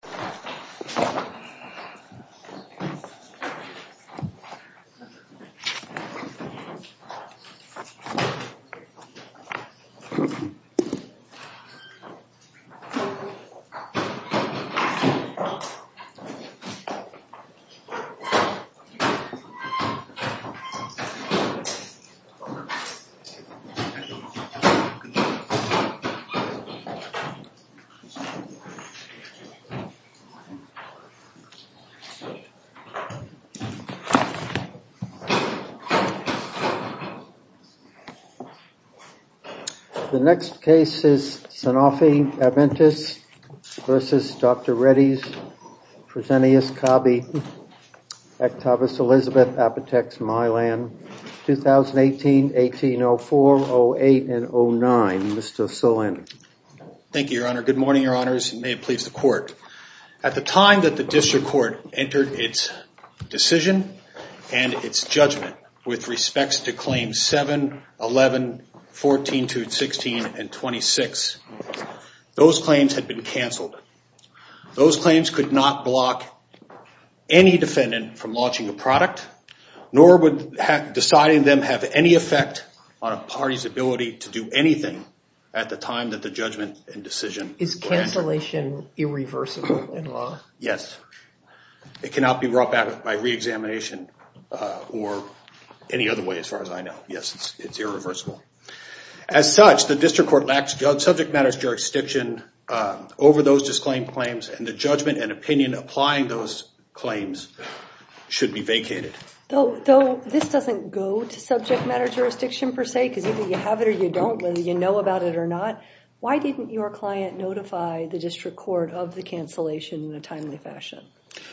Kampingen, Florida, U.S. The next case is Sanofi-Adventis v. Dr. Reddy's Presenteus Cabe, Octavus Elizabeth Apotex Mylan, 2018, 1804, 08, and 09, Mr. Solander. Good morning, your honors, and may it please the court. At the time that the district court entered its decision and its judgment with respects to claims 7, 11, 14-16, and 26, those claims had been canceled. Those claims could not block any defendant from launching a product, nor would deciding them have any effect on a party's ability to do anything at the time that the judgment Is cancellation irreversible in law? Yes, it cannot be brought back by re-examination or any other way as far as I know. Yes, it's irreversible. As such, the district court lacks subject matters jurisdiction over those disclaimed claims and the judgment and opinion applying those claims should be vacated. This doesn't go to subject matter jurisdiction per se, because either you have it or you don't, whether you know about it or not. Why didn't your client notify the district court of the cancellation in a timely fashion?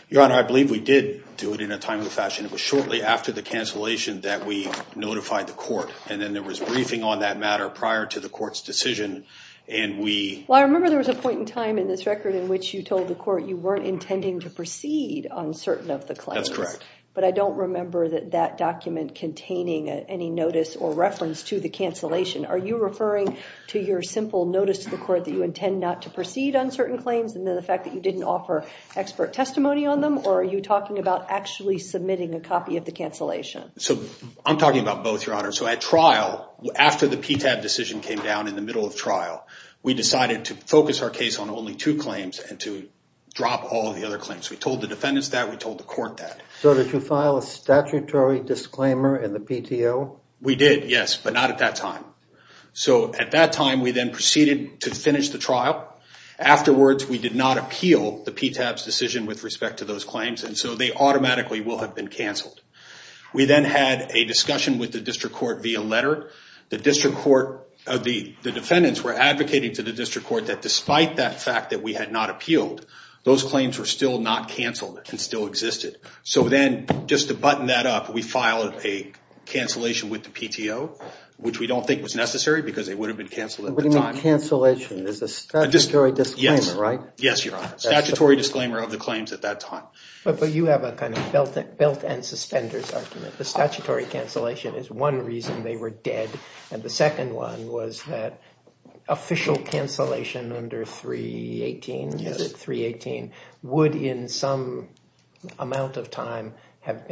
Your honor, I believe we did do it in a timely fashion. It was shortly after the cancellation that we notified the court, and then there was briefing on that matter prior to the court's decision, and we Well, I remember there was a point in time in this record in which you told the court you weren't intending to proceed on certain of the claims. That's correct. But I don't remember that that document containing any notice or reference to the cancellation. Are you referring to your simple notice to the court that you intend not to proceed on certain claims and then the fact that you didn't offer expert testimony on them, or are you talking about actually submitting a copy of the cancellation? I'm talking about both, your honor. At trial, after the PTAB decision came down in the middle of trial, we decided to focus our case on only two claims and to drop all of the other claims. We told the defendants that. We told the court that. So did you file a statutory disclaimer in the PTO? We did, yes, but not at that time. So at that time, we then proceeded to finish the trial. Afterwards, we did not appeal the PTAB's decision with respect to those claims, and so they automatically will have been canceled. We then had a discussion with the district court via letter. The district court, the defendants were advocating to the district court that despite that fact that we had not appealed, those claims were still not canceled and still existed. So then, just to button that up, we filed a cancellation with the PTO, which we don't think was necessary because they would have been canceled at the time. What do you mean cancellation? There's a statutory disclaimer, right? Yes, your honor. Statutory disclaimer of the claims at that time. But you have a kind of belt and suspenders argument. The statutory cancellation is one reason they were dead, and the second one was that official cancellation under 318 would, in some amount of time, have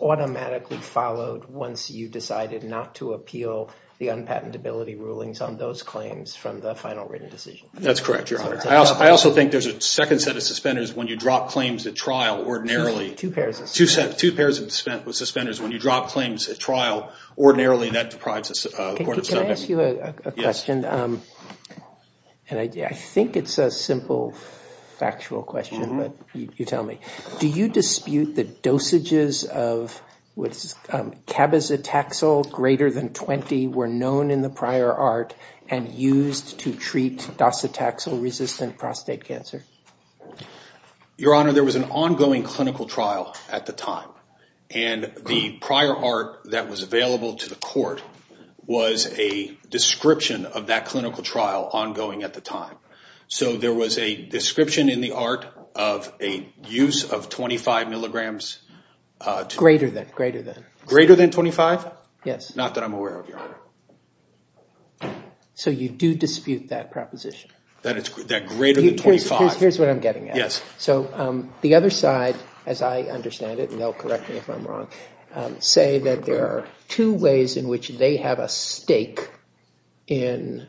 automatically followed once you decided not to appeal the unpatentability rulings on those claims from the final written decision. That's correct, your honor. I also think there's a second set of suspenders when you drop claims at trial ordinarily. Two pairs of suspenders. Two pairs of suspenders. When you drop claims at trial ordinarily, that deprives the court of- Can I ask you a question? I think it's a simple, factual question, but you tell me. Do you dispute the dosages of cabozitaxel greater than 20 were known in the prior art and used to treat docetaxel-resistant prostate cancer? Your honor, there was an ongoing clinical trial at the time, and the prior art that was available to the court was a description of that clinical trial ongoing at the time. So there was a description in the art of a use of 25 milligrams- Greater than. Greater than. Greater than 25? Yes. Not that I'm aware of, your honor. So you do dispute that proposition? That greater than 25- Here's what I'm getting at. Yes. So the other side, as I understand it, and they'll correct me if I'm wrong, say that there are two ways in which they have a stake in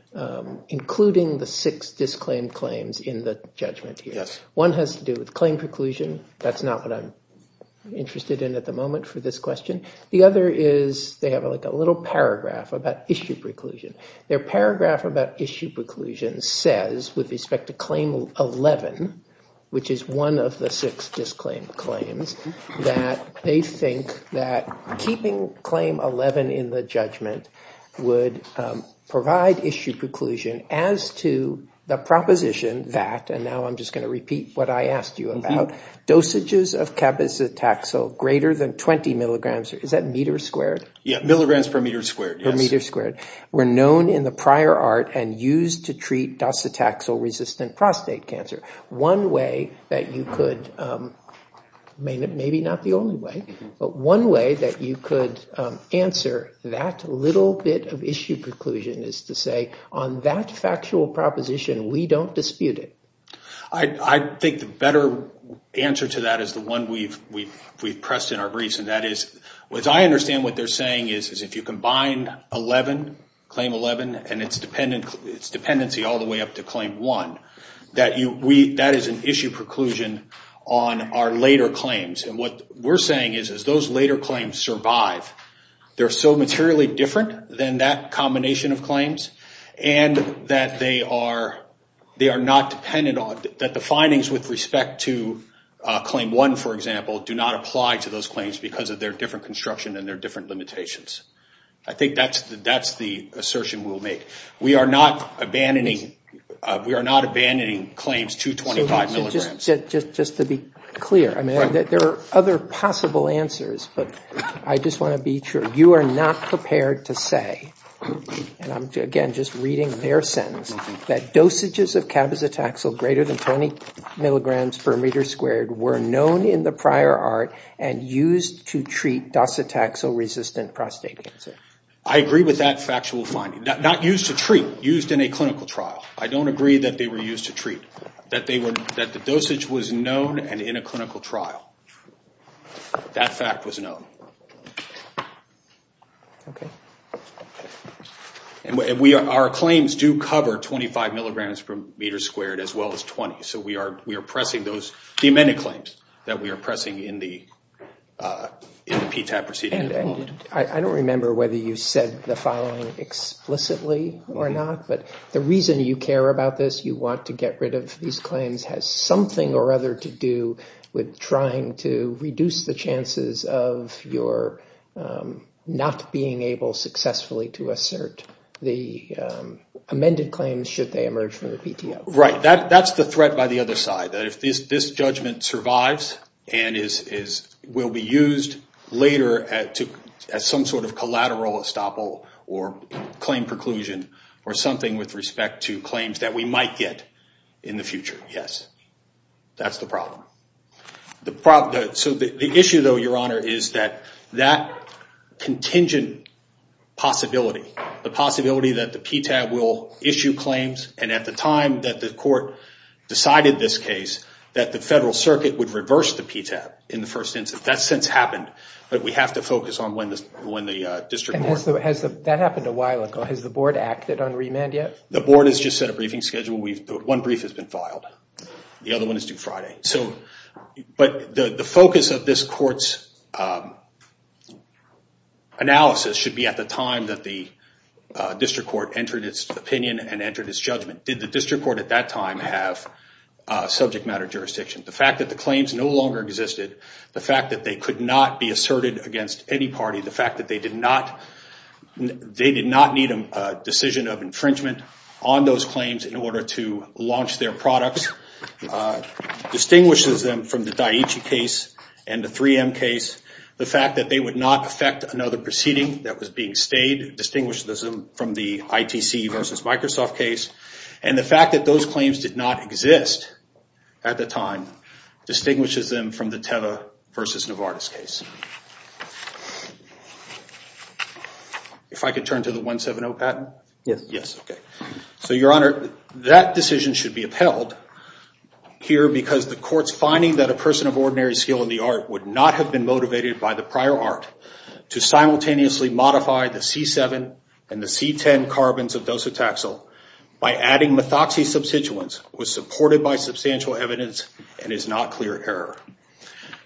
including the six disclaimed claims in the judgment here. One has to do with claim preclusion. That's not what I'm interested in at the moment for this question. The other is they have like a little paragraph about issue preclusion. Their paragraph about issue preclusion says, with respect to claim 11, which is one of the six disclaimed claims, that they think that keeping claim 11 in the judgment would provide issue preclusion as to the proposition that, and now I'm just going to repeat what I asked you about, dosages of cabizetaxel greater than 20 milligrams, is that meters squared? Yeah. Milligrams per meter squared, yes. Milligrams per meter squared were known in the prior art and used to treat dosetaxel-resistant prostate cancer. One way that you could, maybe not the only way, but one way that you could answer that little bit of issue preclusion is to say, on that factual proposition, we don't dispute it. I think the better answer to that is the one we've pressed in our briefs, and that is, as I understand what they're saying, is if you combine 11, claim 11, and its dependency all the way up to claim 1, that is an issue preclusion on our later claims. What we're saying is, as those later claims survive, they're so materially different than that combination of claims, and that they are not dependent on, that the findings with respect to claim 1, for example, do not apply to those claims because of their different construction and their different limitations. I think that's the assertion we'll make. We are not abandoning claims to 25 milligrams. Just to be clear, there are other possible answers, but I just want to be sure. You are not prepared to say, and I'm, again, just reading their sentence, that dosages of cabozitaxel greater than 20 milligrams per meter squared were known in the prior ART and used to treat docetaxel-resistant prostate cancer. I agree with that factual finding. Not used to treat, used in a clinical trial. I don't agree that they were used to treat, that the dosage was known and in a clinical trial. That fact was known. Okay. Our claims do cover 25 milligrams per meter squared, as well as 20, so we are pressing those, the amended claims that we are pressing in the PTAP proceeding at the moment. I don't remember whether you said the following explicitly or not, but the reason you care about this, you want to get rid of these claims, has something or other to do with trying to make sure that you're not being able successfully to assert the amended claims, should they emerge from the PTAP. Right. That's the threat by the other side, that if this judgment survives and will be used later as some sort of collateral estoppel or claim preclusion or something with respect to claims that we might get in the future, yes. That's the problem. The issue though, your honor, is that that contingent possibility, the possibility that the PTAP will issue claims and at the time that the court decided this case, that the federal circuit would reverse the PTAP in the first instance. That's since happened, but we have to focus on when the district court. That happened a while ago. Has the board acted on remand yet? The board has just set a briefing schedule. One brief has been filed. The other one is due Friday. But the focus of this court's analysis should be at the time that the district court entered its opinion and entered its judgment. Did the district court at that time have subject matter jurisdiction? The fact that the claims no longer existed, the fact that they could not be asserted against any party, the fact that they did not need a decision of infringement on those claims in order to launch their products, distinguishes them from the Daiichi case and the 3M case. The fact that they would not affect another proceeding that was being stayed distinguishes them from the ITC versus Microsoft case. And the fact that those claims did not exist at the time distinguishes them from the Teva versus Novartis case. If I could turn to the 170 patent? Yes. Yes. So your honor, that decision should be upheld here because the court's finding that a person of ordinary skill in the art would not have been motivated by the prior art to simultaneously modify the C7 and the C10 carbons of dosotaxel by adding methoxy substituents was supported by substantial evidence and is not clear error.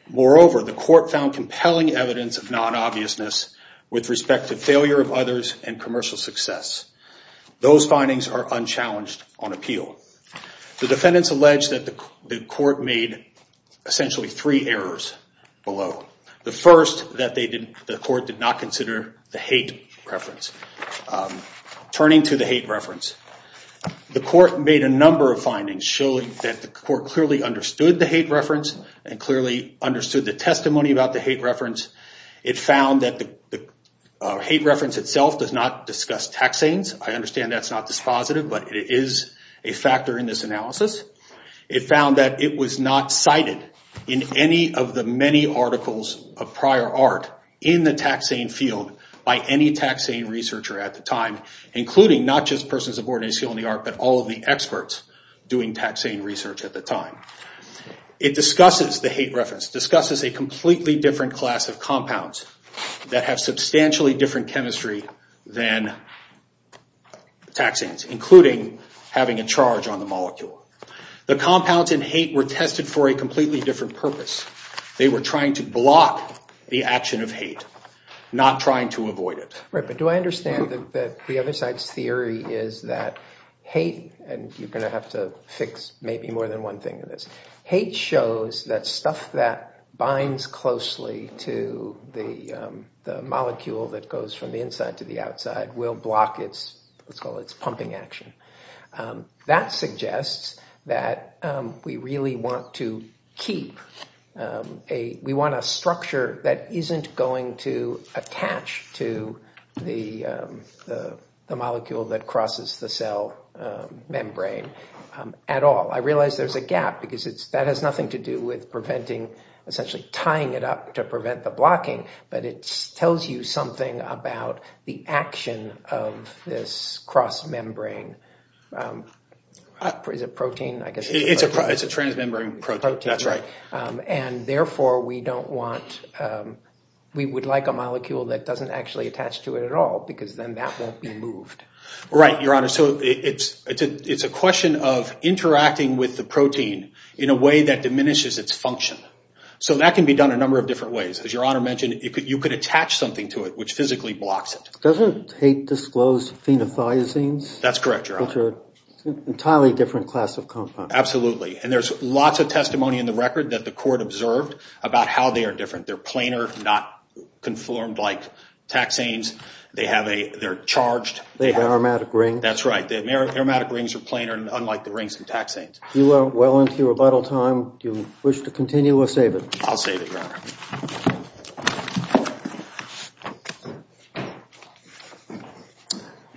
Moreover, the court found compelling evidence of non-obviousness with respect to failure of others and commercial success. Those findings are unchallenged on appeal. The defendants allege that the court made essentially three errors below. The first, that the court did not consider the hate reference. Turning to the hate reference, the court made a number of findings showing that the court clearly understood the hate reference and clearly understood the testimony about the hate reference. It found that the hate reference itself does not discuss taxanes. I understand that's not dispositive, but it is a factor in this analysis. It found that it was not cited in any of the many articles of prior art in the taxane field by any taxane researcher at the time, including not just persons of ordinary skill in the art, but all of the experts doing taxane research at the time. It discusses the hate reference, discusses a completely different class of compounds that have substantially different chemistry than taxanes, including having a charge on the molecule. The compounds in hate were tested for a completely different purpose. They were trying to block the action of hate, not trying to avoid it. Right, but do I understand that the other side's theory is that hate, and you're going to have to fix maybe more than one thing in this, hate shows that stuff that binds closely to the molecule that goes from the inside to the outside will block its, let's call it its pumping action. That suggests that we really want to keep a, we want a structure that isn't going to at all. I realize there's a gap, because that has nothing to do with preventing, essentially tying it up to prevent the blocking, but it tells you something about the action of this cross-membrane. Is it protein? I guess it's protein. It's a transmembrane protein, that's right. And therefore, we don't want, we would like a molecule that doesn't actually attach to it at all, because then that won't be moved. Right, your honor. So it's a question of interacting with the protein in a way that diminishes its function. So that can be done a number of different ways. As your honor mentioned, you could attach something to it which physically blocks it. Doesn't hate disclose phenothiazines? That's correct, your honor. Which are an entirely different class of compound. Absolutely, and there's lots of testimony in the record that the court observed about how they are different. They're planar, not conformed like taxanes. They have a, they're charged. They have an aromatic ring. That's right. The aromatic rings are planar, unlike the rings from taxanes. You are well into your rebuttal time. Do you wish to continue or save it? I'll save it, your honor.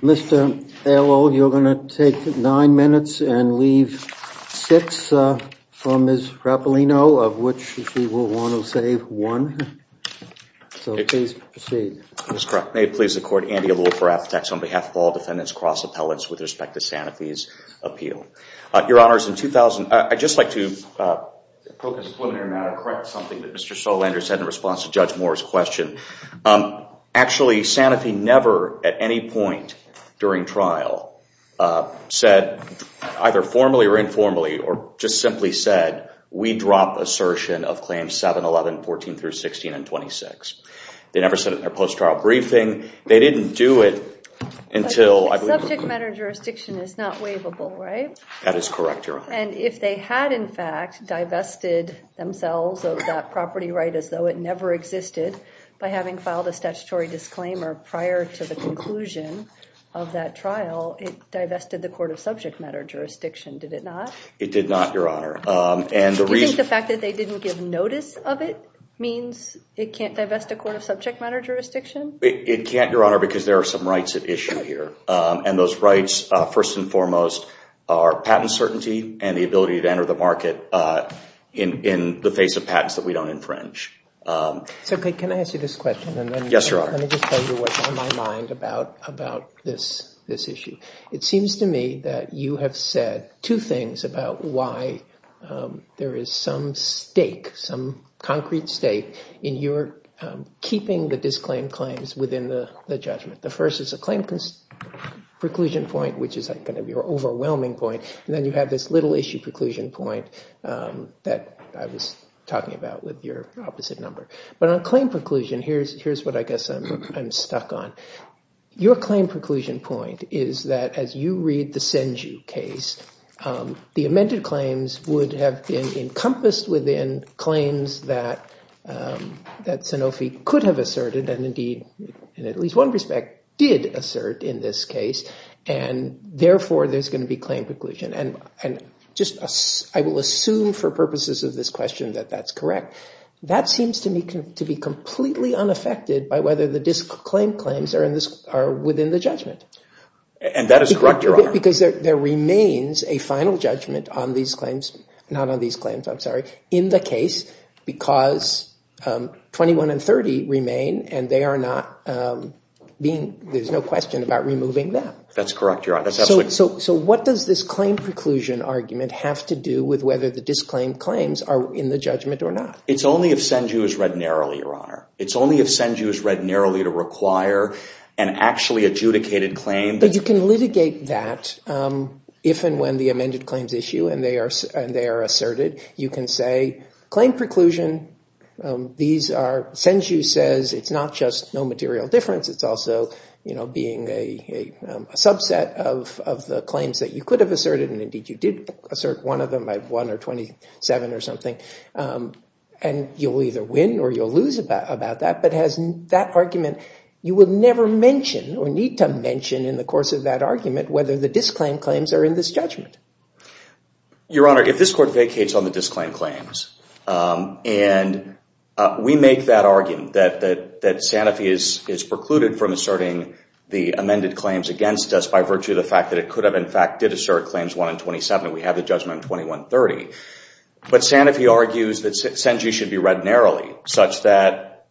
Mr. Aylol, you're going to take nine minutes and leave six for Ms. Rapolino, of which she will want to save one. So please proceed. That's correct. May it please the court, Andy Aylol for Appetax on behalf of all defendants cross appellants with respect to Sanofi's appeal. Your honors, in 2000, I'd just like to focus on something that Mr. Solander said in response to Judge Moore's question. Actually Sanofi never at any point during trial said, either formally or informally, or just simply said, we drop assertion of claims 7, 11, 14 through 16 and 26. They never said it in their post-trial briefing. They didn't do it until I believe... Subject matter jurisdiction is not waivable, right? That is correct, your honor. And if they had in fact divested themselves of that property right as though it never existed by having filed a statutory disclaimer prior to the conclusion of that trial, it divested the court of subject matter jurisdiction, did it not? It did not, your honor. Do you think the fact that they didn't give notice of it means it can't divest the court of subject matter jurisdiction? It can't, your honor, because there are some rights at issue here. And those rights, first and foremost, are patent certainty and the ability to enter the market in the face of patents that we don't infringe. So, can I ask you this question? Yes, your honor. Let me just tell you what's on my mind about this issue. It seems to me that you have said two things about why there is some stake, some concrete stake in your keeping the disclaim claims within the judgment. The first is a claim preclusion point, which is kind of your overwhelming point, and then you have this little issue preclusion point that I was talking about with your opposite number. But on claim preclusion, here's what I guess I'm stuck on. Your claim preclusion point is that, as you read the Senju case, the amended claims would have been encompassed within claims that Sanofi could have asserted, and indeed, in at least one respect, did assert in this case, and therefore there's going to be claim preclusion. And I will assume for purposes of this question that that's correct. That seems to me to be completely unaffected by whether the disclaimed claims are within the judgment. And that is correct, your honor. Because there remains a final judgment on these claims, not on these claims, I'm sorry, in the case, because 21 and 30 remain, and there's no question about removing them. That's correct, your honor. That's absolutely correct. So, what does this claim preclusion argument have to do with whether the disclaimed claims are in the judgment or not? It's only if Senju is read narrowly, your honor. It's only if Senju is read narrowly to require an actually adjudicated claim. But you can litigate that if and when the amended claims issue and they are asserted. You can say, claim preclusion, these are, Senju says, it's not just no material difference, it's also being a subset of the claims that you could have asserted, and indeed you did assert one of them by 1 or 27 or something, and you'll either win or you'll lose about that. But that argument, you would never mention or need to mention in the course of that argument whether the disclaimed claims are in this judgment. Your honor, if this court vacates on the disclaimed claims, and we make that argument that Sanofi is precluded from asserting the amended claims against us by virtue of the fact that it could have, in fact, did assert claims 1 and 27, we have the judgment on 2130. But Sanofi argues that Senju should be read narrowly such that,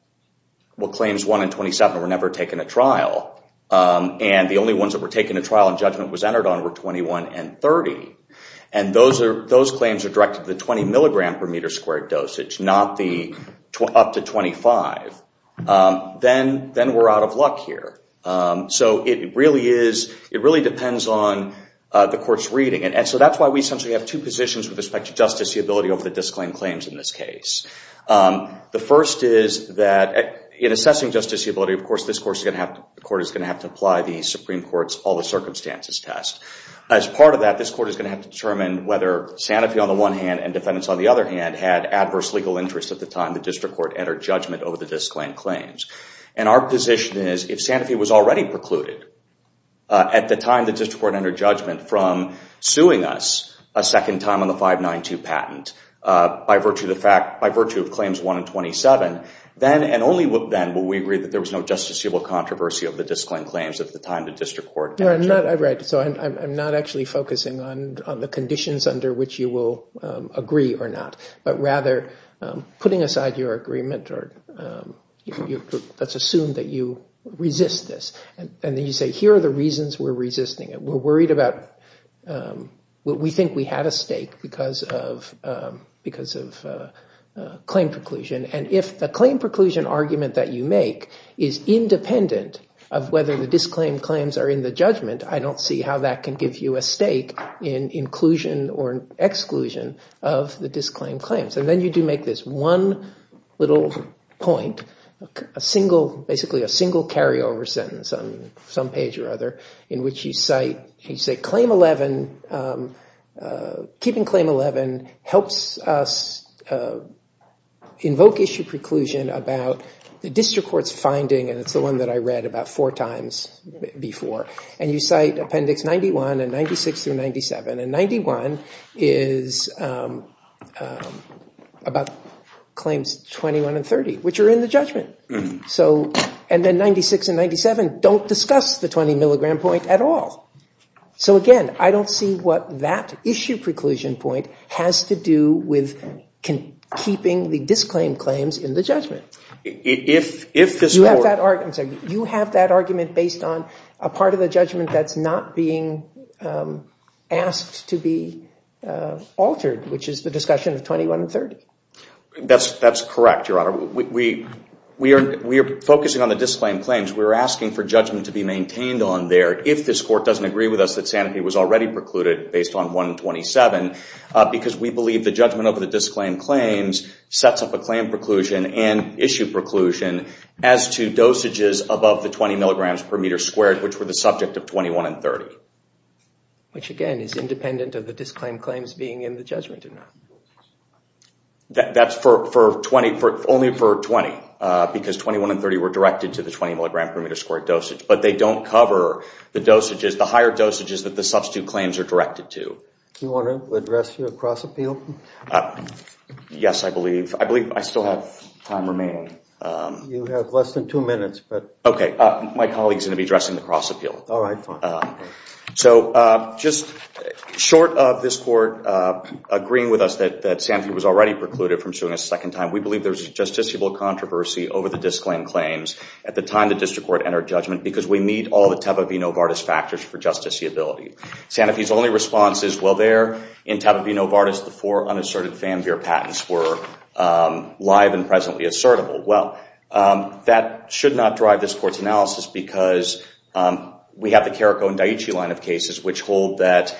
well, claims 1 and 27 were never taken to trial, and the only ones that were taken to trial and judgment was entered on were 21 and 30. And those claims are directed to the 20 milligram per meter squared dosage, not the up to 25. Then we're out of luck here. So it really depends on the court's reading. And so that's why we essentially have two positions with respect to justiciability over the disclaimed claims in this case. The first is that in assessing justiciability, of course, this court is going to have to apply the Supreme Court's all the circumstances test. As part of that, this court is going to have to determine whether Sanofi on the one hand and defendants on the other hand had adverse legal interests at the time the district court entered judgment over the disclaimed claims. And our position is if Sanofi was already precluded at the time the district court entered judgment from suing us a second time on the 592 patent by virtue of claims 1 and 27, then and only then will we agree that there was no justiciable controversy of the disclaimed claims at the time the district court entered. Right. So I'm not actually focusing on the conditions under which you will agree or not, but rather putting aside your agreement or let's assume that you resist this and then you say here are the reasons we're resisting it. We're worried about what we think we had a stake because of claim preclusion. And if the claim preclusion argument that you make is independent of whether the disclaimed claims are in the judgment, I don't see how that can give you a stake in inclusion or exclusion of the disclaimed claims. And then you do make this one little point, basically a single carryover sentence on some page or other in which you say keeping claim 11 helps us invoke issue preclusion about the district court's finding and it's the one that I read about four times before. And you cite appendix 91 and 96 through 97 and 91 is about claims 21 and 30, which are in the judgment. So and then 96 and 97 don't discuss the 20 milligram point at all. So again, I don't see what that issue preclusion point has to do with keeping the disclaimed claims in the judgment. If this court... You have that argument based on a part of the judgment that's not being asked to be altered, which is the discussion of 21 and 30. That's correct, Your Honor. We are focusing on the disclaimed claims. We're asking for judgment to be maintained on there if this court doesn't agree with us that Sanofi was already precluded based on 127 because we believe the judgment over issue preclusion as to dosages above the 20 milligrams per meter squared, which were the subject of 21 and 30. Which again is independent of the disclaimed claims being in the judgment or not. That's for 20, only for 20 because 21 and 30 were directed to the 20 milligram per meter squared dosage. But they don't cover the dosages, the higher dosages that the substitute claims are directed to. Do you want to address your cross appeal? Yes, I believe. I believe I still have time remaining. You have less than two minutes, but... Okay. My colleague's going to be addressing the cross appeal. All right. Fine. So just short of this court agreeing with us that Sanofi was already precluded from suing a second time, we believe there's justiciable controversy over the disclaimed claims at the time the district court entered judgment because we meet all the Tavivino-Vardis factors for justiciability. Sanofi's only response is, well, there in Tavivino-Vardis, the four unasserted Van were live and presently assertable. Well, that should not drive this court's analysis because we have the Carrico and Daiichi line of cases which hold that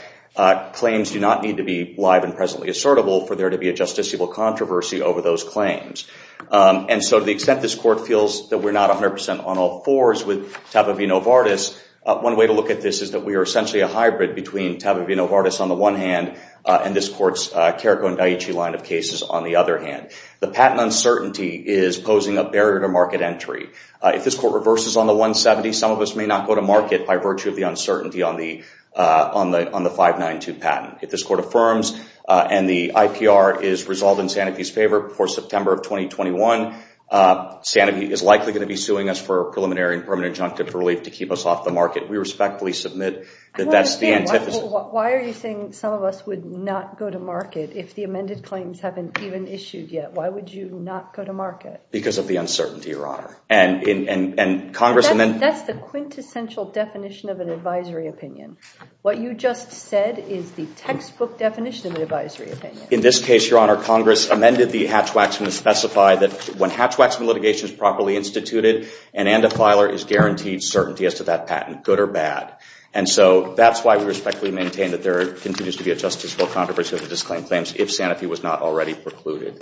claims do not need to be live and presently assertable for there to be a justiciable controversy over those claims. And so to the extent this court feels that we're not 100% on all fours with Tavivino-Vardis, one way to look at this is that we are essentially a hybrid between Tavivino-Vardis on the one hand and this court's Carrico and Daiichi line of cases on the other hand. The patent uncertainty is posing a barrier to market entry. If this court reverses on the 170, some of us may not go to market by virtue of the uncertainty on the 592 patent. If this court affirms and the IPR is resolved in Sanofi's favor before September of 2021, Sanofi is likely going to be suing us for preliminary and permanent injunctive relief to keep us off the market. We respectfully submit that that's the antithesis. Why are you saying some of us would not go to market if the amended claims haven't even issued yet? Why would you not go to market? Because of the uncertainty, Your Honor. And Congress amended... That's the quintessential definition of an advisory opinion. What you just said is the textbook definition of an advisory opinion. In this case, Your Honor, Congress amended the Hatch-Waxman to specify that when Hatch-Waxman litigation is properly instituted, an and a filer is guaranteed certainty as to that patent, good or bad. And so that's why we respectfully maintain that there continues to be a justiceful controversy of the disclaimed claims if Sanofi was not already precluded.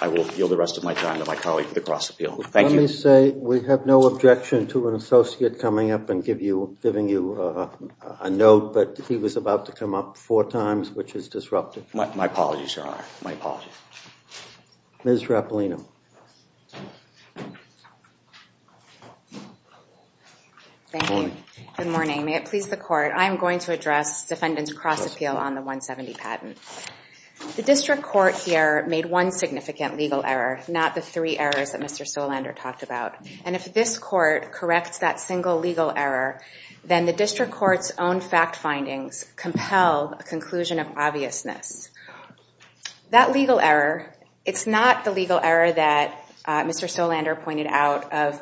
I will yield the rest of my time to my colleague for the cross-appeal. Thank you. Let me say we have no objection to an associate coming up and giving you a note, but he was about to come up four times, which is disruptive. My apologies, Your Honor. My apologies. Ms. Rapolino. Thank you. Good morning. May it please the court, I am going to address defendant's cross-appeal on the 170 patent. The district court here made one significant legal error, not the three errors that Mr. Solander talked about. And if this court corrects that single legal error, then the district court's own fact findings compel a conclusion of obviousness. That legal error, it's not the legal error that Mr. Solander pointed out of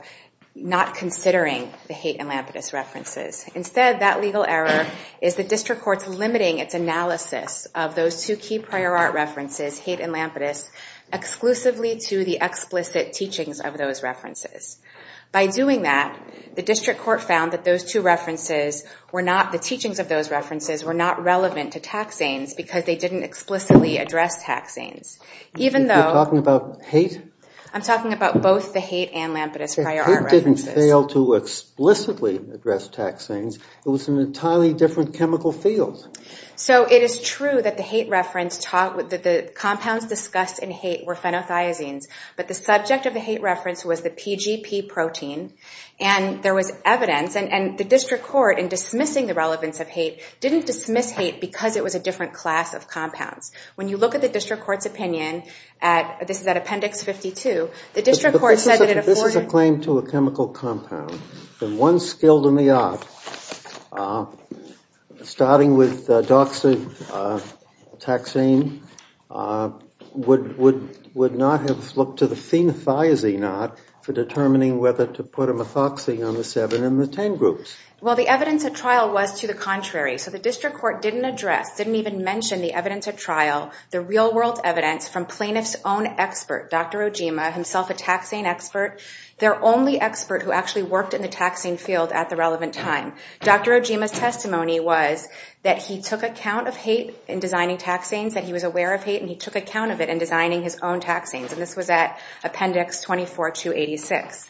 not considering the Haight and Lampetus references. Instead, that legal error is the district court's limiting its analysis of those two key prior art references, Haight and Lampetus, exclusively to the explicit teachings of those references. By doing that, the district court found that those two references were not, the teachings of those references were not relevant to tax zanes because they didn't explicitly address tax zanes. Even though- You're talking about Haight? I'm talking about both the Haight and Lampetus prior art references. They didn't fail to explicitly address tax zanes. It was an entirely different chemical field. So it is true that the Haight reference taught that the compounds discussed in Haight were phenothiazines. But the subject of the Haight reference was the PGP protein. And there was evidence, and the district court, in dismissing the relevance of Haight, didn't dismiss Haight because it was a different class of compounds. When you look at the district court's opinion, this is at appendix 52, the district court said that it- If this is a claim to a chemical compound, then one skilled in the art, starting with doxy taxane, would not have looked to the phenothiazine art for determining whether to put a methoxy on the 7 and the 10 groups. Well, the evidence at trial was to the contrary. So the district court didn't address, didn't even mention the evidence at trial, the real They're only expert who actually worked in the taxing field at the relevant time. Dr. Ojima's testimony was that he took account of Haight in designing taxanes, that he was aware of Haight, and he took account of it in designing his own taxanes. And this was at appendix 24, 286.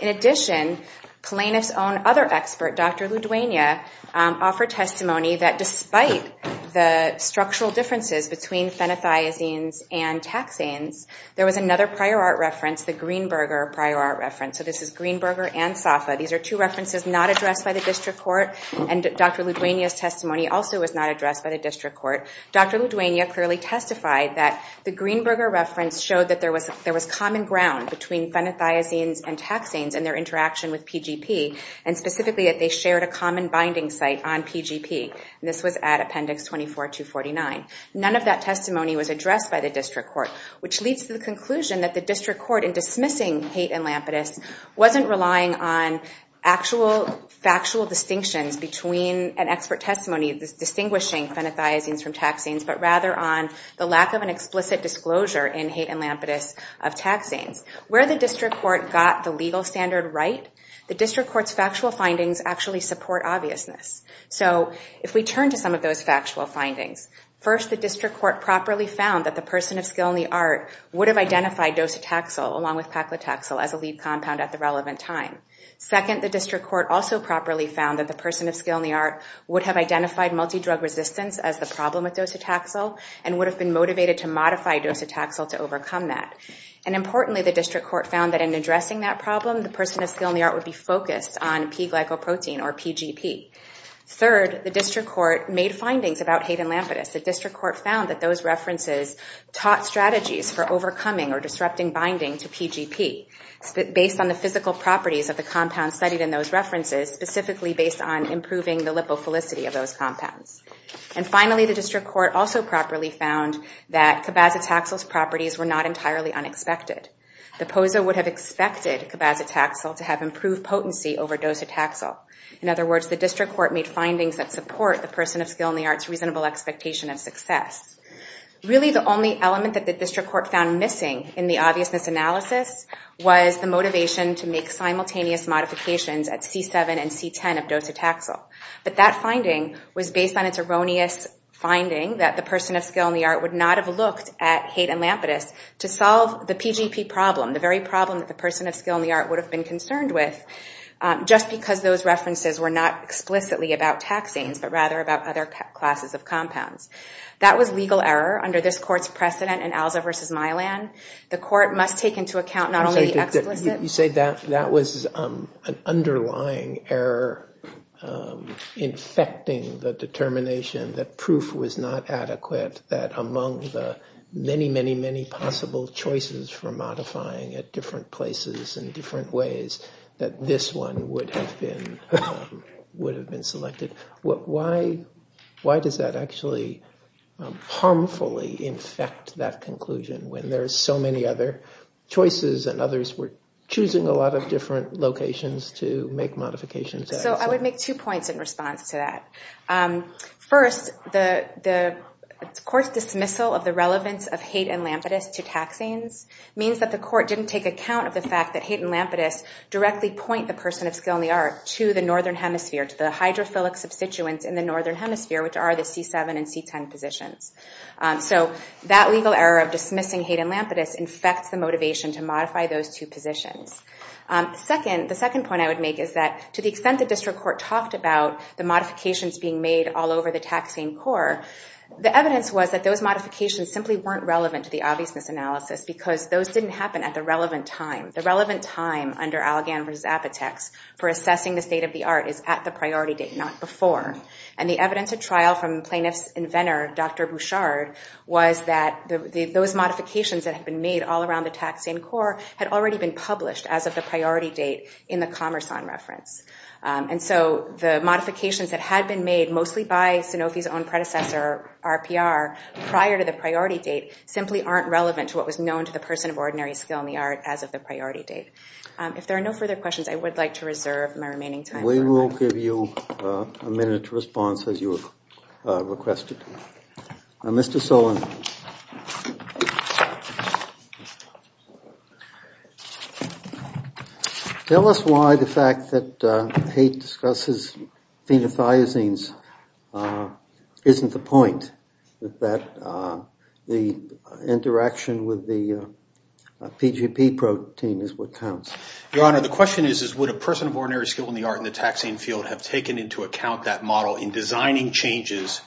In addition, Kalaniff's own other expert, Dr. Ludwania, offered testimony that despite the structural differences between phenothiazines and taxanes, there was another prior art reference, the Greenberger prior art reference. So this is Greenberger and Safa. These are two references not addressed by the district court, and Dr. Ludwania's testimony also was not addressed by the district court. Dr. Ludwania clearly testified that the Greenberger reference showed that there was common ground between phenothiazines and taxanes and their interaction with PGP, and specifically that they shared a common binding site on PGP. This was at appendix 24, 249. None of that testimony was addressed by the district court, which leads to the conclusion that the district court, in dismissing Haight and Lampetus, wasn't relying on actual factual distinctions between an expert testimony distinguishing phenothiazines from taxanes, but rather on the lack of an explicit disclosure in Haight and Lampetus of taxanes. Where the district court got the legal standard right, the district court's factual findings actually support obviousness. So if we turn to some of those factual findings, first, the district court properly found that the person of skill in the art would have identified docetaxel along with paclitaxel as a lead compound at the relevant time. Second, the district court also properly found that the person of skill in the art would have identified multidrug resistance as the problem with docetaxel and would have been motivated to modify docetaxel to overcome that. And importantly, the district court found that in addressing that problem, the person of skill in the art would be focused on P-glycoprotein, or PGP. Third, the district court made findings about Haight and Lampetus. The district court found that those references taught strategies for overcoming or disrupting binding to PGP based on the physical properties of the compounds studied in those references, specifically based on improving the lipophilicity of those compounds. And finally, the district court also properly found that cabazitaxel's properties were not entirely unexpected. The POSO would have expected cabazitaxel to have improved potency over docetaxel. In other words, the district court made findings that support the person of skill in the art's reasonable expectation of success. Really the only element that the district court found missing in the obviousness analysis was the motivation to make simultaneous modifications at C7 and C10 of docetaxel. But that finding was based on its erroneous finding that the person of skill in the art would not have looked at Haight and Lampetus to solve the PGP problem, the very problem that the person of skill in the art would have been concerned with, just because those of compounds. That was legal error under this court's precedent in Alza v. Milan. The court must take into account not only the explicit- You say that was an underlying error infecting the determination that proof was not adequate that among the many, many, many possible choices for modifying at different places and different ways that this one would have been selected. Why does that actually harmfully infect that conclusion when there are so many other choices and others were choosing a lot of different locations to make modifications at? So I would make two points in response to that. First, the court's dismissal of the relevance of Haight and Lampetus to taxanes means that the court didn't take account of the fact that Haight and Lampetus directly point the hydrophilic substituents in the northern hemisphere, which are the C7 and C10 positions. So that legal error of dismissing Haight and Lampetus infects the motivation to modify those two positions. The second point I would make is that to the extent the district court talked about the modifications being made all over the taxane core, the evidence was that those modifications simply weren't relevant to the obviousness analysis because those didn't happen at the relevant time. The relevant time under Allegan v. Apotex for assessing the state of the art is at the priority date, not before. And the evidence at trial from plaintiff's inventor, Dr. Bouchard, was that those modifications that had been made all around the taxane core had already been published as of the priority date in the Commerson reference. And so the modifications that had been made mostly by Sanofi's own predecessor, RPR, prior to the priority date simply aren't relevant to what was known to the person of ordinary skill in the art as of the priority date. If there are no further questions, I would like to reserve my remaining time. We will give you a minute to respond, as you have requested. Mr. Solon, tell us why the fact that Haight discusses phenothiazines isn't the point, that the interaction with the PGP protein is what counts. Your Honor, the question is, would a person of ordinary skill in the art in the taxane field have taken into account that model in designing changes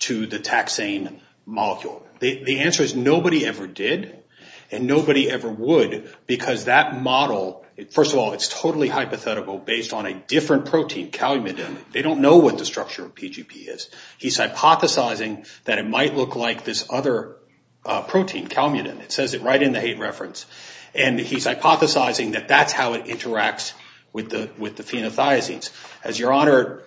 to the taxane molecule? The answer is nobody ever did, and nobody ever would, because that model, first of all, it's totally hypothetical based on a different protein, calumetin. They don't know what the structure of PGP is. He's hypothesizing that it might look like this other protein, calumetin. It says it right in the Haight reference. He's hypothesizing that that's how it interacts with the phenothiazines. As Your Honor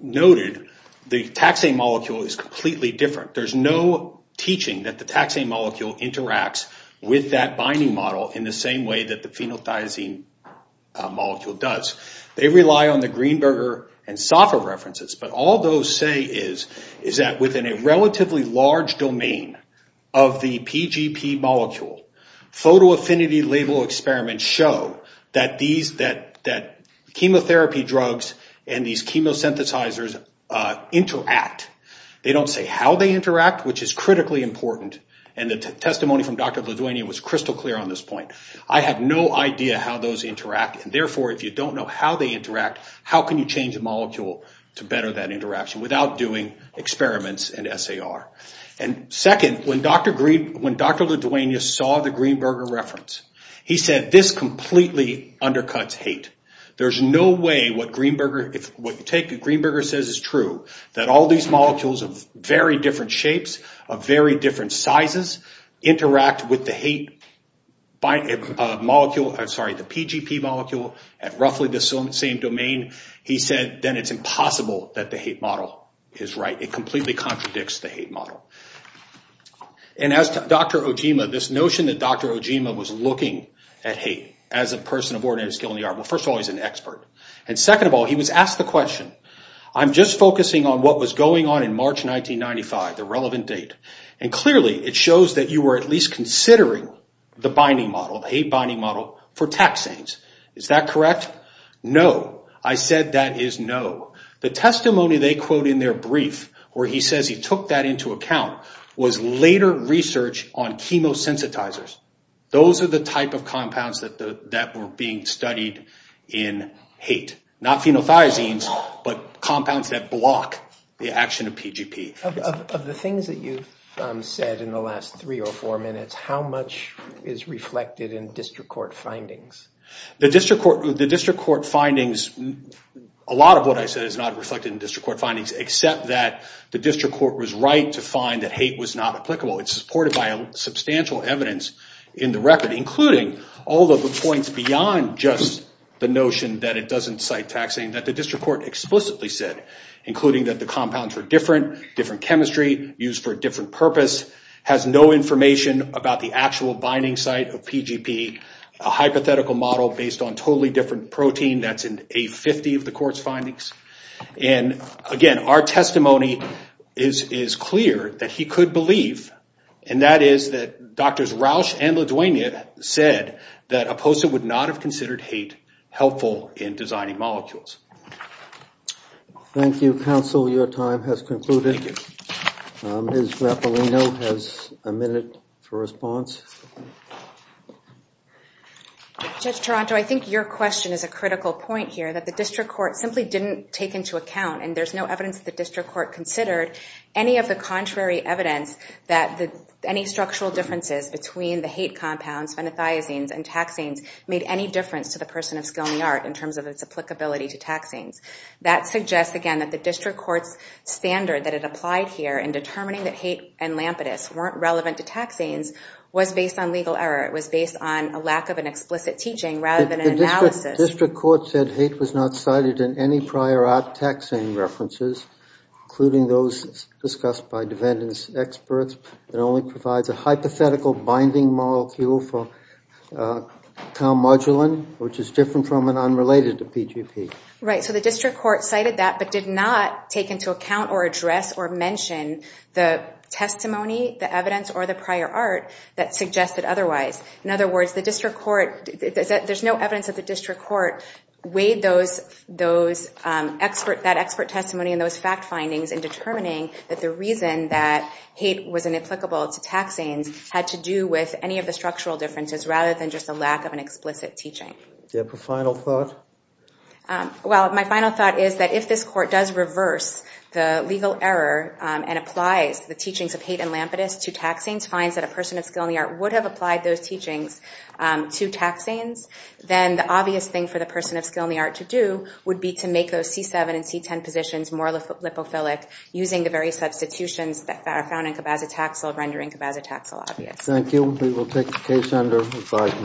noted, the taxane molecule is completely different. There's no teaching that the taxane molecule interacts with that binding model in the same way that the phenothiazine molecule does. They rely on the Greenberger and Safa references, but all those say is that within a relatively large domain of the PGP molecule, photoaffinity label experiments show that chemotherapy drugs and these chemosynthesizers interact. They don't say how they interact, which is critically important, and the testimony from Dr. Ladoinia was crystal clear on this point. I have no idea how those interact, and therefore, if you don't know how they interact, how can you change a molecule to better that interaction without doing experiments and SAR? Second, when Dr. Ladoinia saw the Greenberger reference, he said, this completely undercuts Haight. There's no way what Greenberger says is true, that all these molecules of very different shapes, of very different sizes, interact with the PGP molecule at roughly the same domain. He said, then it's impossible that the Haight model is right. It completely contradicts the Haight model. As to Dr. Ojima, this notion that Dr. Ojima was looking at Haight as a person of ordinated skill in the art, well, first of all, he's an expert, and second of all, he was asked the question, I'm just focusing on what was going on in March 1995, the relevant date, and clearly, it shows that you were at least considering the Haight binding model for taxanes. Is that correct? No. I said that is no. The testimony they quote in their brief, where he says he took that into account, was later research on chemosensitizers. Those are the type of compounds that were being studied in Haight. Not phenolthiazines, but compounds that block the action of PGP. Of the things that you've said in the last three or four minutes, how much is reflected in district court findings? The district court findings, a lot of what I said is not reflected in district court findings, except that the district court was right to find that Haight was not applicable. It's supported by substantial evidence in the record, including all of the points beyond just the notion that it doesn't cite taxing that the district court explicitly said, including that the compounds were different, different chemistry, used for a different purpose, has no information about the actual binding site of PGP, a hypothetical model based on a totally different protein that's in A50 of the court's findings. Our testimony is clear that he could believe, and that is that Drs. Rausch and LaDuana said that Oposa would not have considered Haight helpful in designing molecules. Thank you, counsel. Your time has concluded. Thank you. Ms. Mappalino has a minute for response. Judge Taranto, I think your question is a critical point here, that the district court simply didn't take into account, and there's no evidence that the district court considered, any of the contrary evidence that any structural differences between the Haight compounds, phenothiazines, and taxines made any difference to the person of skill and the art in terms of its applicability to taxines. That suggests, again, that the district court's standard that it applied here in determining that Haight and Lampetus weren't relevant to taxines was based on legal error. It was based on a lack of an explicit teaching rather than an analysis. District court said Haight was not cited in any prior art taxine references, including those discussed by defendants' experts. It only provides a hypothetical binding molecule for calmodulin, which is different from and unrelated to PGP. Right. So the district court cited that but did not take into account or address or mention the testimony, the evidence, or the prior art that suggested otherwise. In other words, the district court, there's no evidence that the district court weighed that expert testimony and those fact findings in determining that the reason that Haight was inapplicable to taxines had to do with any of the structural differences rather than just a lack of an explicit teaching. Do you have a final thought? Well, my final thought is that if this court does reverse the legal error and applies the teachings of Haight and Lampetus to taxines, finds that a person of skill in the art would have applied those teachings to taxines, then the obvious thing for the person of skill in the art to do would be to make those C-7 and C-10 positions more lipophilic using the very substitutions that are found in cabazitaxel, rendering cabazitaxel obvious. Thank you. We will take the case under review.